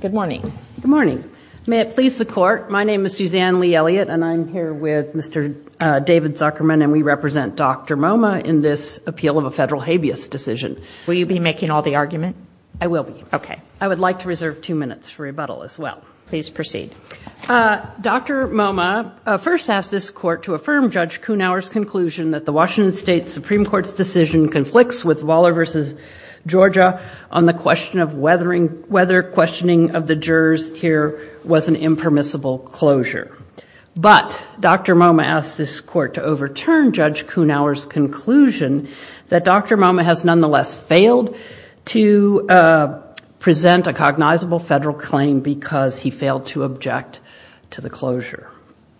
Good morning. Good morning. May it please the Court, my name is Suzanne Lee-Elliott and I'm here with Mr. David Zuckerman and we represent Dr. Momah in this appeal of a federal habeas decision. Will you be making all the argument? I will be. Okay. I would like to reserve two minutes for rebuttal as well. Please proceed. Dr. Momah first asked this Court to affirm Judge Kuhnauer's conclusion that the Washington State Supreme Court's decision conflicts with Waller v. Georgia on the question of whether questioning of the jurors here was an impermissible closure. But Dr. Momah asked this Court to overturn Judge Kuhnauer's conclusion that Dr. Momah has nonetheless failed to present a cognizable federal claim because he failed to object to the closure.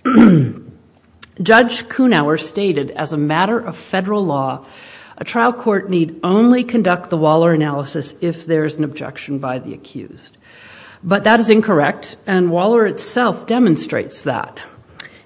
Judge Kuhnauer stated, as a matter of federal law, a trial court need only conduct the Waller analysis if there is an objection by the accused. But that is incorrect and Waller itself demonstrates that.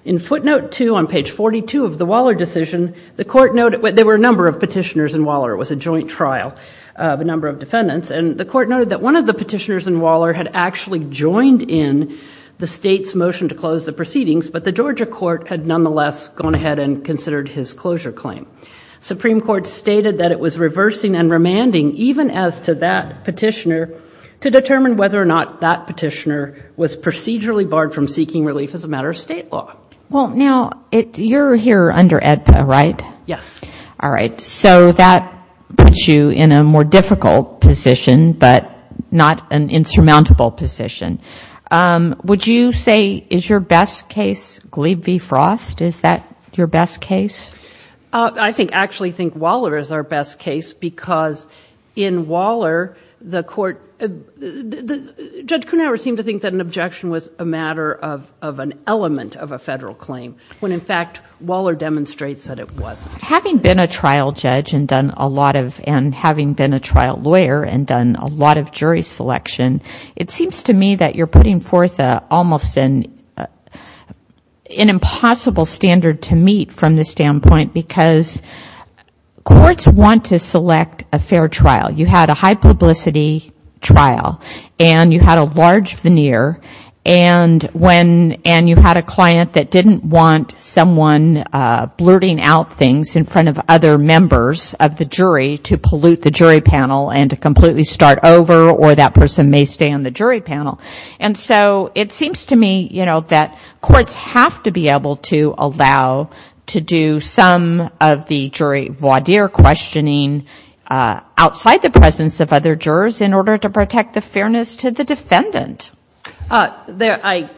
In footnote two on page 42 of the Waller decision, the Court noted, there were a number of petitioners in Waller, it was a joint trial of a number of defendants, and the Court noted that one of the petitioners in Waller had actually joined in the State's motion to close the proceedings, but the Georgia Court had nonetheless gone ahead and considered his closure claim. Supreme Court stated that it was reversing and remanding, even as to that petitioner, to determine whether or not that petitioner was procedurally barred from seeking relief as a matter of State law. Well, now, you're here under AEDPA, right? Yes. All right. So that puts you in a more difficult position, but not an insurmountable position. Would you say, is your best case Glebe v. Frost? Is that your best case? I actually think Waller is our best case because in Waller, Judge Kuhnhauer seemed to think that an objection was a matter of an element of a Federal claim, when in fact, Waller demonstrates that it wasn't. Having been a trial judge and having been a trial lawyer and done a lot of jury selection, it seems to me that you're putting forth almost an impossible standard to meet from the stand point because courts want to select a fair trial. You had a high publicity trial and you had a large veneer and you had a client that didn't want someone blurting out things in front of other members of the jury to pollute the jury panel and to completely start over or that person may stay on the jury panel. And so it seems to me, you know, that courts have to be able to allow to do some of the jury voir dire questioning outside the presence of other jurors in order to protect the fairness to the defendant. I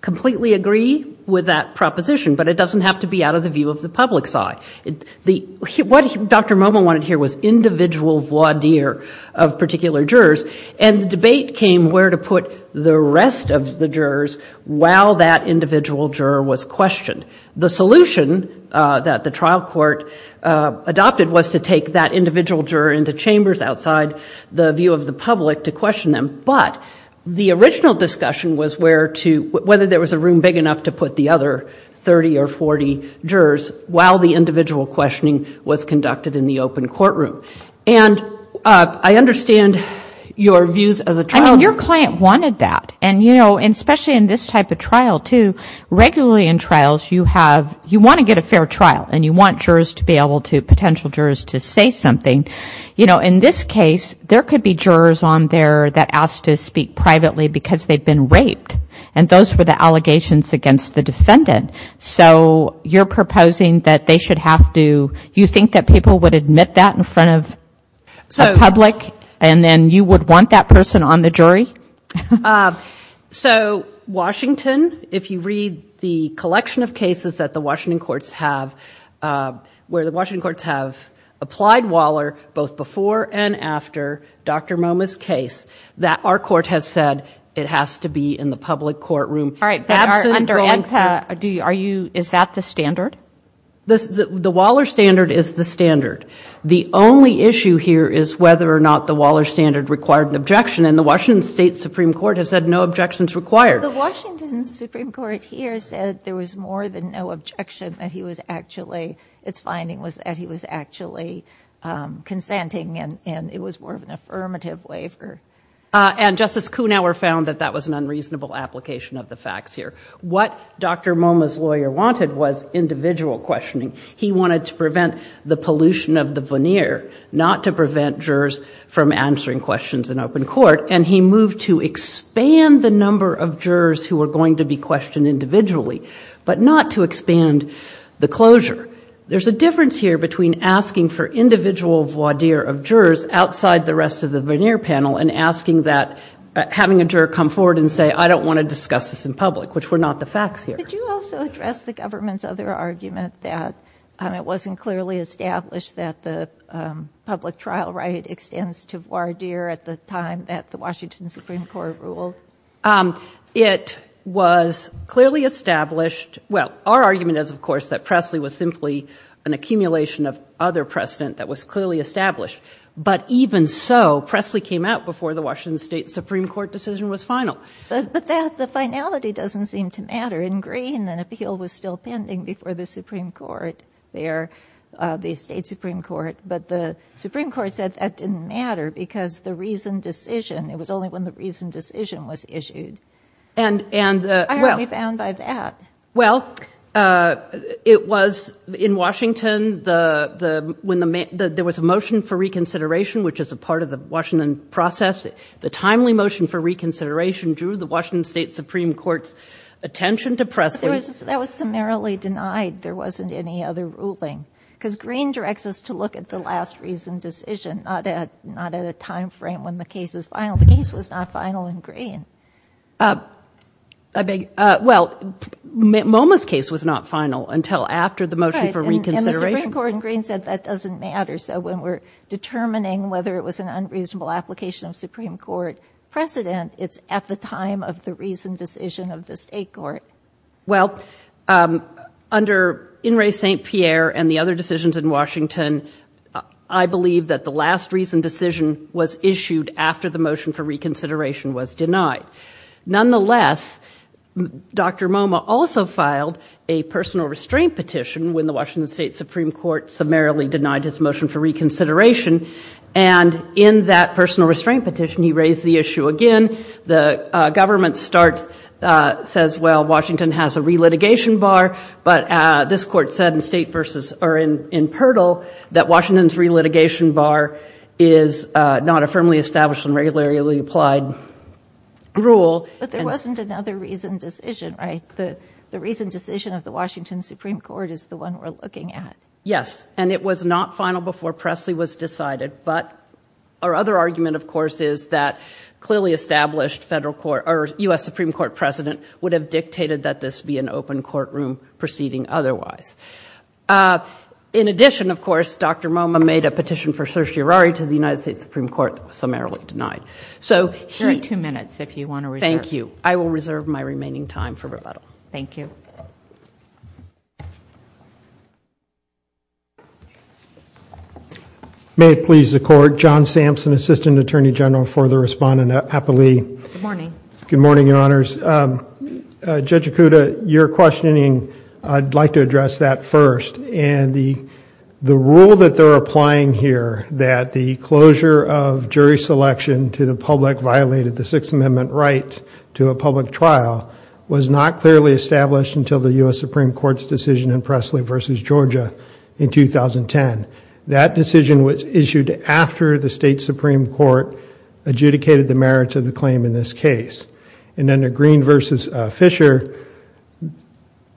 completely agree with that proposition, but it doesn't have to be out of the view of the public's eye. What Dr. Moma wanted to hear was individual voir dire of particular jurors and the debate came where to put the rest of the jurors while that individual juror was questioned. The solution that the trial court adopted was to take that individual juror into chambers outside the view of the public to question them, but the original discussion was whether there was a room big enough to put the other 30 or 40 jurors while the individual questioning was conducted in the open courtroom. And I understand your views as a trial court. I mean, your client wanted that. And you know, especially in this type of trial, too, regularly in trials you have, you want to get a fair trial and you want jurors to be able to, potential jurors to say something. You know, in this case, there could be jurors on there that asked to speak privately because they've been raped and those were the allegations against the defendant. So you're proposing that they should have to, you think that people would admit that in front of the public and then you would want that person on the jury? So Washington, if you read the collection of cases that the Washington courts have, where the Washington courts have applied Waller both before and after Dr. Moma's case, that our court has said it has to be in the public courtroom. All right. But are you, is that the standard? The Waller standard is the standard. The only issue here is whether or not the Waller standard required an objection and the Washington State Supreme Court has said no objections required. The Washington Supreme Court here said there was more than no objection, that he was actually, its finding was that he was actually consenting and it was more of an affirmative waiver. And Justice Kuhnhauer found that that was an unreasonable application of the facts here. What Dr. Moma's lawyer wanted was individual questioning. He wanted to prevent the pollution of the veneer, not to prevent jurors from answering questions in open court. And he moved to expand the number of jurors who were going to be questioned individually, but not to expand the closure. There's a difference here between asking for individual voir dire of jurors outside the rest of the veneer panel and asking that, having a juror come forward and say, I don't want to discuss this in public, which were not the facts here. Did you also address the government's other argument that it wasn't clearly established that the public trial right extends to voir dire at the time that the Washington Supreme Court ruled? It was clearly established. Well, our argument is of course that Presley was simply an accumulation of other precedent that was clearly established. But even so, Presley came out before the Washington State Supreme Court decision was final. But the finality doesn't seem to matter. In Green, an appeal was still pending before the Supreme Court there, the State Supreme Court. But the Supreme Court said that didn't matter because the reasoned decision, it was only when the reasoned decision was issued. And why are we bound by that? Well, it was in Washington, when there was a motion for reconsideration, which is a part of the Washington process. The timely motion for reconsideration drew the Washington State Supreme Court's attention to Presley. But that was summarily denied. There wasn't any other ruling. Because Green directs us to look at the last reasoned decision, not at a time frame when the case is final. The case was not final in Green. I beg, well, MoMA's case was not final until after the motion for reconsideration. Right, and the Supreme Court in Green said that doesn't matter. So when we're determining whether it was an unreasonable application of Supreme Court precedent, it's at the time of the reasoned decision of the State Court. Well, under In re St. Pierre and the other decisions in Washington, I believe that the last reasoned decision was issued after the motion for reconsideration was denied. Nonetheless, Dr. MoMA also filed a personal restraint petition when the Washington State Supreme Court summarily denied his motion for reconsideration. And in that personal restraint petition, he raised the issue again. The government starts, says, well, Washington has a re-litigation bar. But this court said in state versus, or in Pertil, that Washington's re-litigation bar is not a firmly established and regularly applied rule. But there wasn't another reasoned decision, right? The reasoned decision of the Washington Supreme Court is the one we're looking at. Yes, and it was not final before Presley was decided. But our other argument, of course, is that clearly established federal court, or U.S. Supreme Court precedent would have dictated that this be an open courtroom proceeding otherwise. In addition, of course, Dr. MoMA made a petition for certiorari to the United States Supreme Court that was summarily denied. So he- 32 minutes, if you want to reserve. Thank you. I will reserve my remaining time for rebuttal. Thank you. May it please the Court, John Sampson, Assistant Attorney General for the Respondent at Applee. Good morning. Good morning, Your Honors. Judge Acuda, your questioning, I'd like to address that first. And the rule that they're applying here, that the closure of jury selection to the public that violated the Sixth Amendment right to a public trial was not clearly established until the U.S. Supreme Court's decision in Presley v. Georgia in 2010. That decision was issued after the State Supreme Court adjudicated the merits of the claim in this case. And under Green v. Fisher,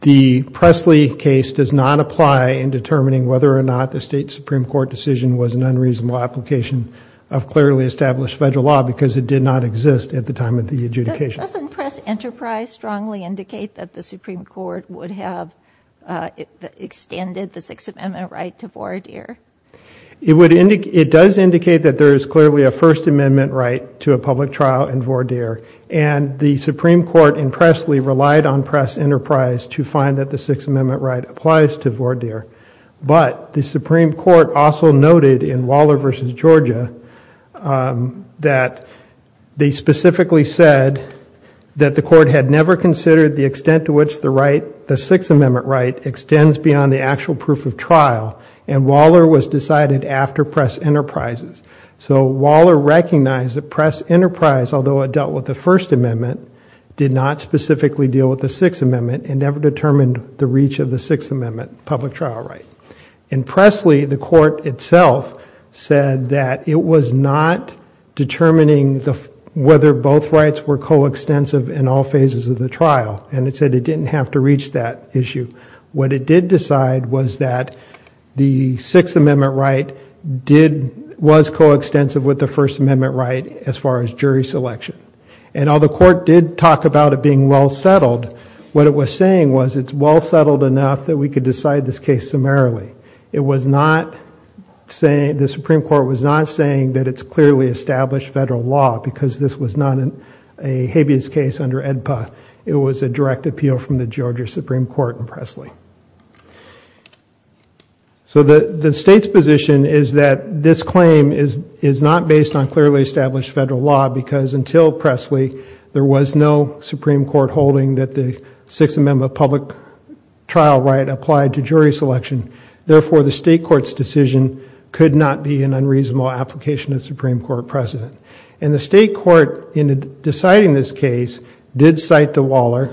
the Presley case does not apply in determining whether or not the State Supreme Court decision was an unreasonable application of clearly established federal law because it did not exist at the time of the adjudication. Doesn't Press Enterprise strongly indicate that the Supreme Court would have extended the Sixth Amendment right to Vordier? It does indicate that there is clearly a First Amendment right to a public trial in Vordier. And the Supreme Court in Presley relied on Press Enterprise to find that the Sixth Amendment right applies to Vordier. But the Supreme Court also noted in Waller v. Georgia that they specifically said that the court had never considered the extent to which the Sixth Amendment right extends beyond the actual proof of trial. And Waller was decided after Press Enterprises. So Waller recognized that Press Enterprise, although it dealt with the First Amendment, did not specifically deal with the Sixth Amendment and never determined the reach of the Sixth Amendment trial right. In Presley, the court itself said that it was not determining whether both rights were coextensive in all phases of the trial. And it said it didn't have to reach that issue. What it did decide was that the Sixth Amendment right did, was coextensive with the First Amendment right as far as jury selection. And although the court did talk about it being well settled, what it was saying was it's well settled enough that we could decide this case summarily. It was not saying, the Supreme Court was not saying that it's clearly established federal law because this was not a habeas case under AEDPA. It was a direct appeal from the Georgia Supreme Court in Presley. So the state's position is that this claim is not based on clearly established federal law because until Presley, there was no Supreme Court holding that the Sixth Amendment public trial right applied to jury selection. Therefore the state court's decision could not be an unreasonable application of Supreme Court precedent. And the state court, in deciding this case, did cite the Waller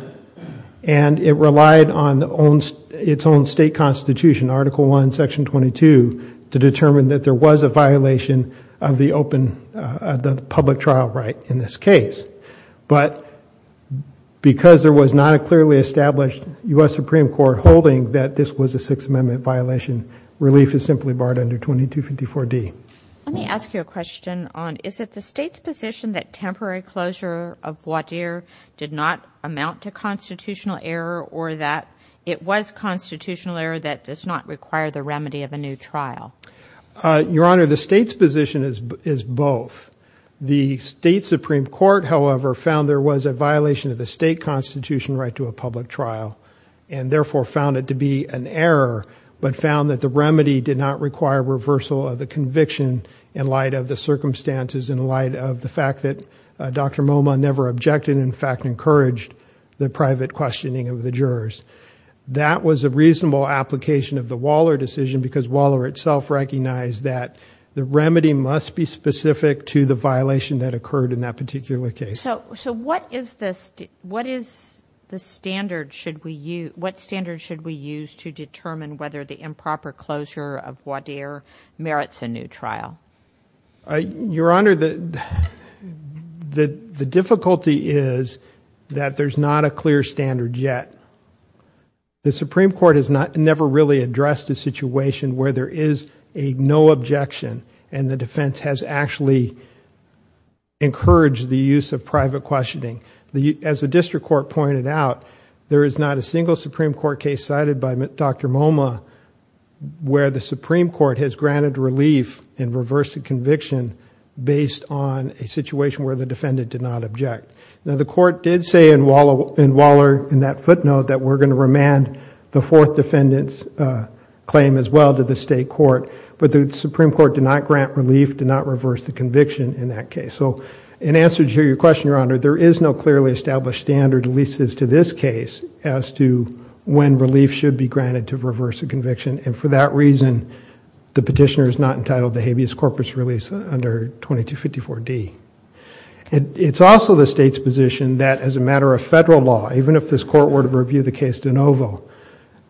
and it relied on its own state constitution, Article I, Section 22, to determine that there was a violation of the open, the public trial right in this case. But because there was not a clearly established U.S. Supreme Court holding that this was a Sixth Amendment violation, relief is simply barred under 2254 D. Let me ask you a question on, is it the state's position that temporary closure of Wadeer did not amount to constitutional error or that it was constitutional error that does not require the remedy of a new trial? Your Honor, the state's position is both. The state Supreme Court, however, found there was a violation of the state constitution right to a public trial and therefore found it to be an error, but found that the remedy did not require reversal of the conviction in light of the circumstances, in light of the fact that Dr. MoMA never objected, in fact, encouraged the private questioning of the jurors. That was a reasonable application of the Waller decision because Waller itself recognized that the remedy must be specific to the violation that occurred in that particular case. So what is this, what is the standard should we use, what standard should we use to determine whether the improper closure of Wadeer merits a new trial? Your Honor, the difficulty is that there's not a clear standard yet. The Supreme Court has never really addressed a situation where there is a no objection and the defense has actually encouraged the use of private questioning. As the district court pointed out, there is not a single Supreme Court case cited by Dr. MoMA to reverse a conviction based on a situation where the defendant did not object. Now, the court did say in Waller, in that footnote, that we're going to remand the fourth defendant's claim as well to the state court, but the Supreme Court did not grant relief, did not reverse the conviction in that case. So in answer to your question, Your Honor, there is no clearly established standard, at least as to this case, as to when relief should be granted to reverse a conviction and for that reason, the petitioner is not entitled to habeas corpus release under 2254D. It's also the state's position that as a matter of federal law, even if this court were to review the case de novo,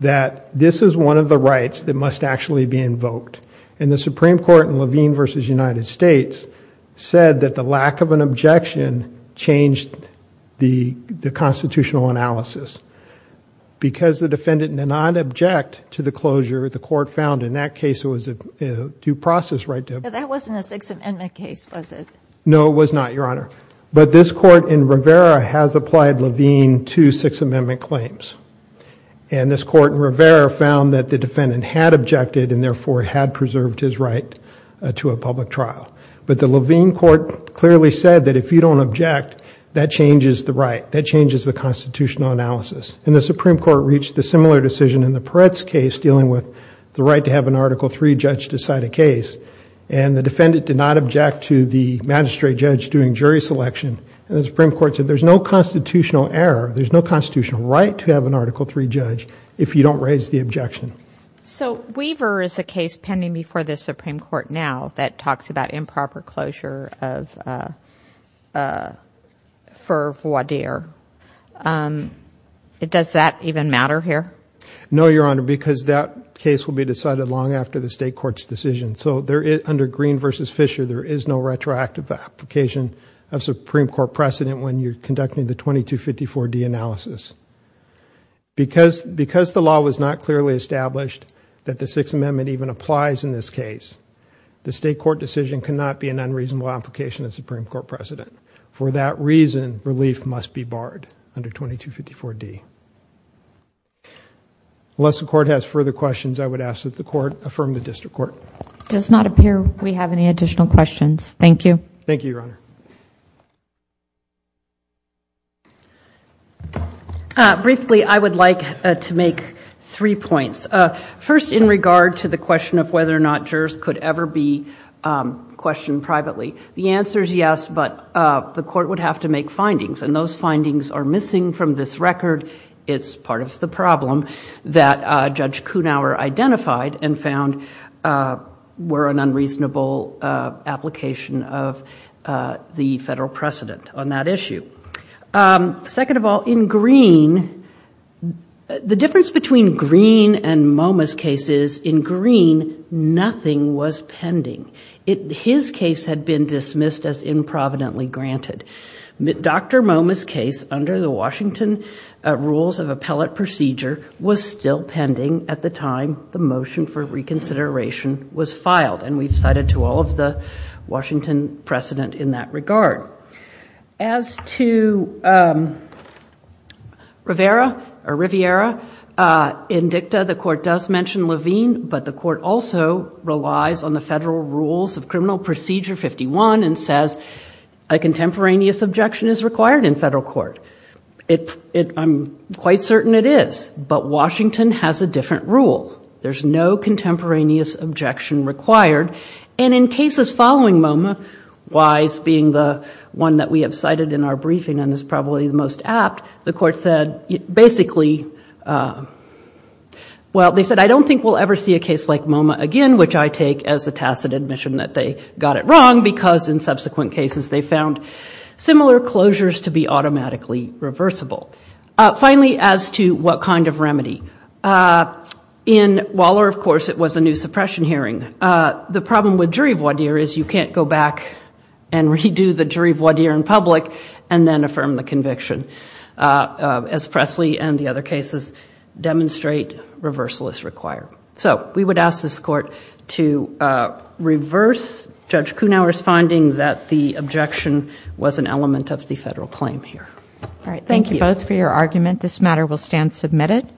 that this is one of the rights that must actually be invoked. And the Supreme Court in Levine v. United States said that the lack of an objection changed the constitutional analysis. Because the defendant did not object to the closure, the court found in that case it was a due process right to... But that wasn't a Sixth Amendment case, was it? No, it was not, Your Honor. But this court in Rivera has applied Levine to Sixth Amendment claims. And this court in Rivera found that the defendant had objected and therefore had preserved his right to a public trial. But the Levine court clearly said that if you don't object, that changes the right, that changes the constitutional analysis. And the Supreme Court reached a similar decision in the Peretz case dealing with the right to have an Article III judge decide a case. And the defendant did not object to the magistrate judge doing jury selection and the Supreme Court said there's no constitutional error, there's no constitutional right to have an Article III judge if you don't raise the objection. So Weaver is a case pending before the Supreme Court now that talks about improper closure of Ferv-Wadeer. Does that even matter here? No, Your Honor, because that case will be decided long after the state court's decision. So under Green v. Fisher, there is no retroactive application of Supreme Court precedent when you're conducting the 2254-D analysis. Because the law was not clearly established that the Sixth Amendment even applies in this case, the state court decision cannot be an unreasonable application of Supreme Court precedent. For that reason, relief must be barred under 2254-D. Unless the court has further questions, I would ask that the court affirm the district court. It does not appear we have any additional questions. Thank you. Thank you, Your Honor. Briefly, I would like to make three points. First in regard to the question of whether or not jurors could ever be questioned privately. The answer is yes, but the court would have to make findings, and those findings are missing from this record. It's part of the problem that Judge Kunauer identified and found were an unreasonable application of the federal precedent on that issue. Second of all, in Green, the difference between Green and MoMA's case is in Green, nothing was pending. His case had been dismissed as improvidently granted. Dr. MoMA's case, under the Washington rules of appellate procedure, was still pending at the time the motion for reconsideration was filed. And we've cited to all of the Washington precedent in that regard. As to Rivera, the court does mention Levine, but the court also relies on the federal rules of criminal procedure 51 and says a contemporaneous objection is required in federal court. I'm quite certain it is, but Washington has a different rule. There's no contemporaneous objection required. And in cases following MoMA, Wise being the one that we have cited in our briefing and is probably the most apt, the court said basically, well, they said, I don't think we'll ever see a case like MoMA again, which I take as a tacit admission that they got it wrong because in subsequent cases they found similar closures to be automatically reversible. Finally, as to what kind of remedy. In Waller, of course, it was a new suppression hearing. The problem with jury voir dire is you can't go back and redo the jury voir dire in public and then affirm the conviction, as Presley and the other cases demonstrate reversal is required. So we would ask this court to reverse Judge Kuhnauer's finding that the objection was an element of the federal claim here. All right. Thank you both for your argument. This matter will stand submitted.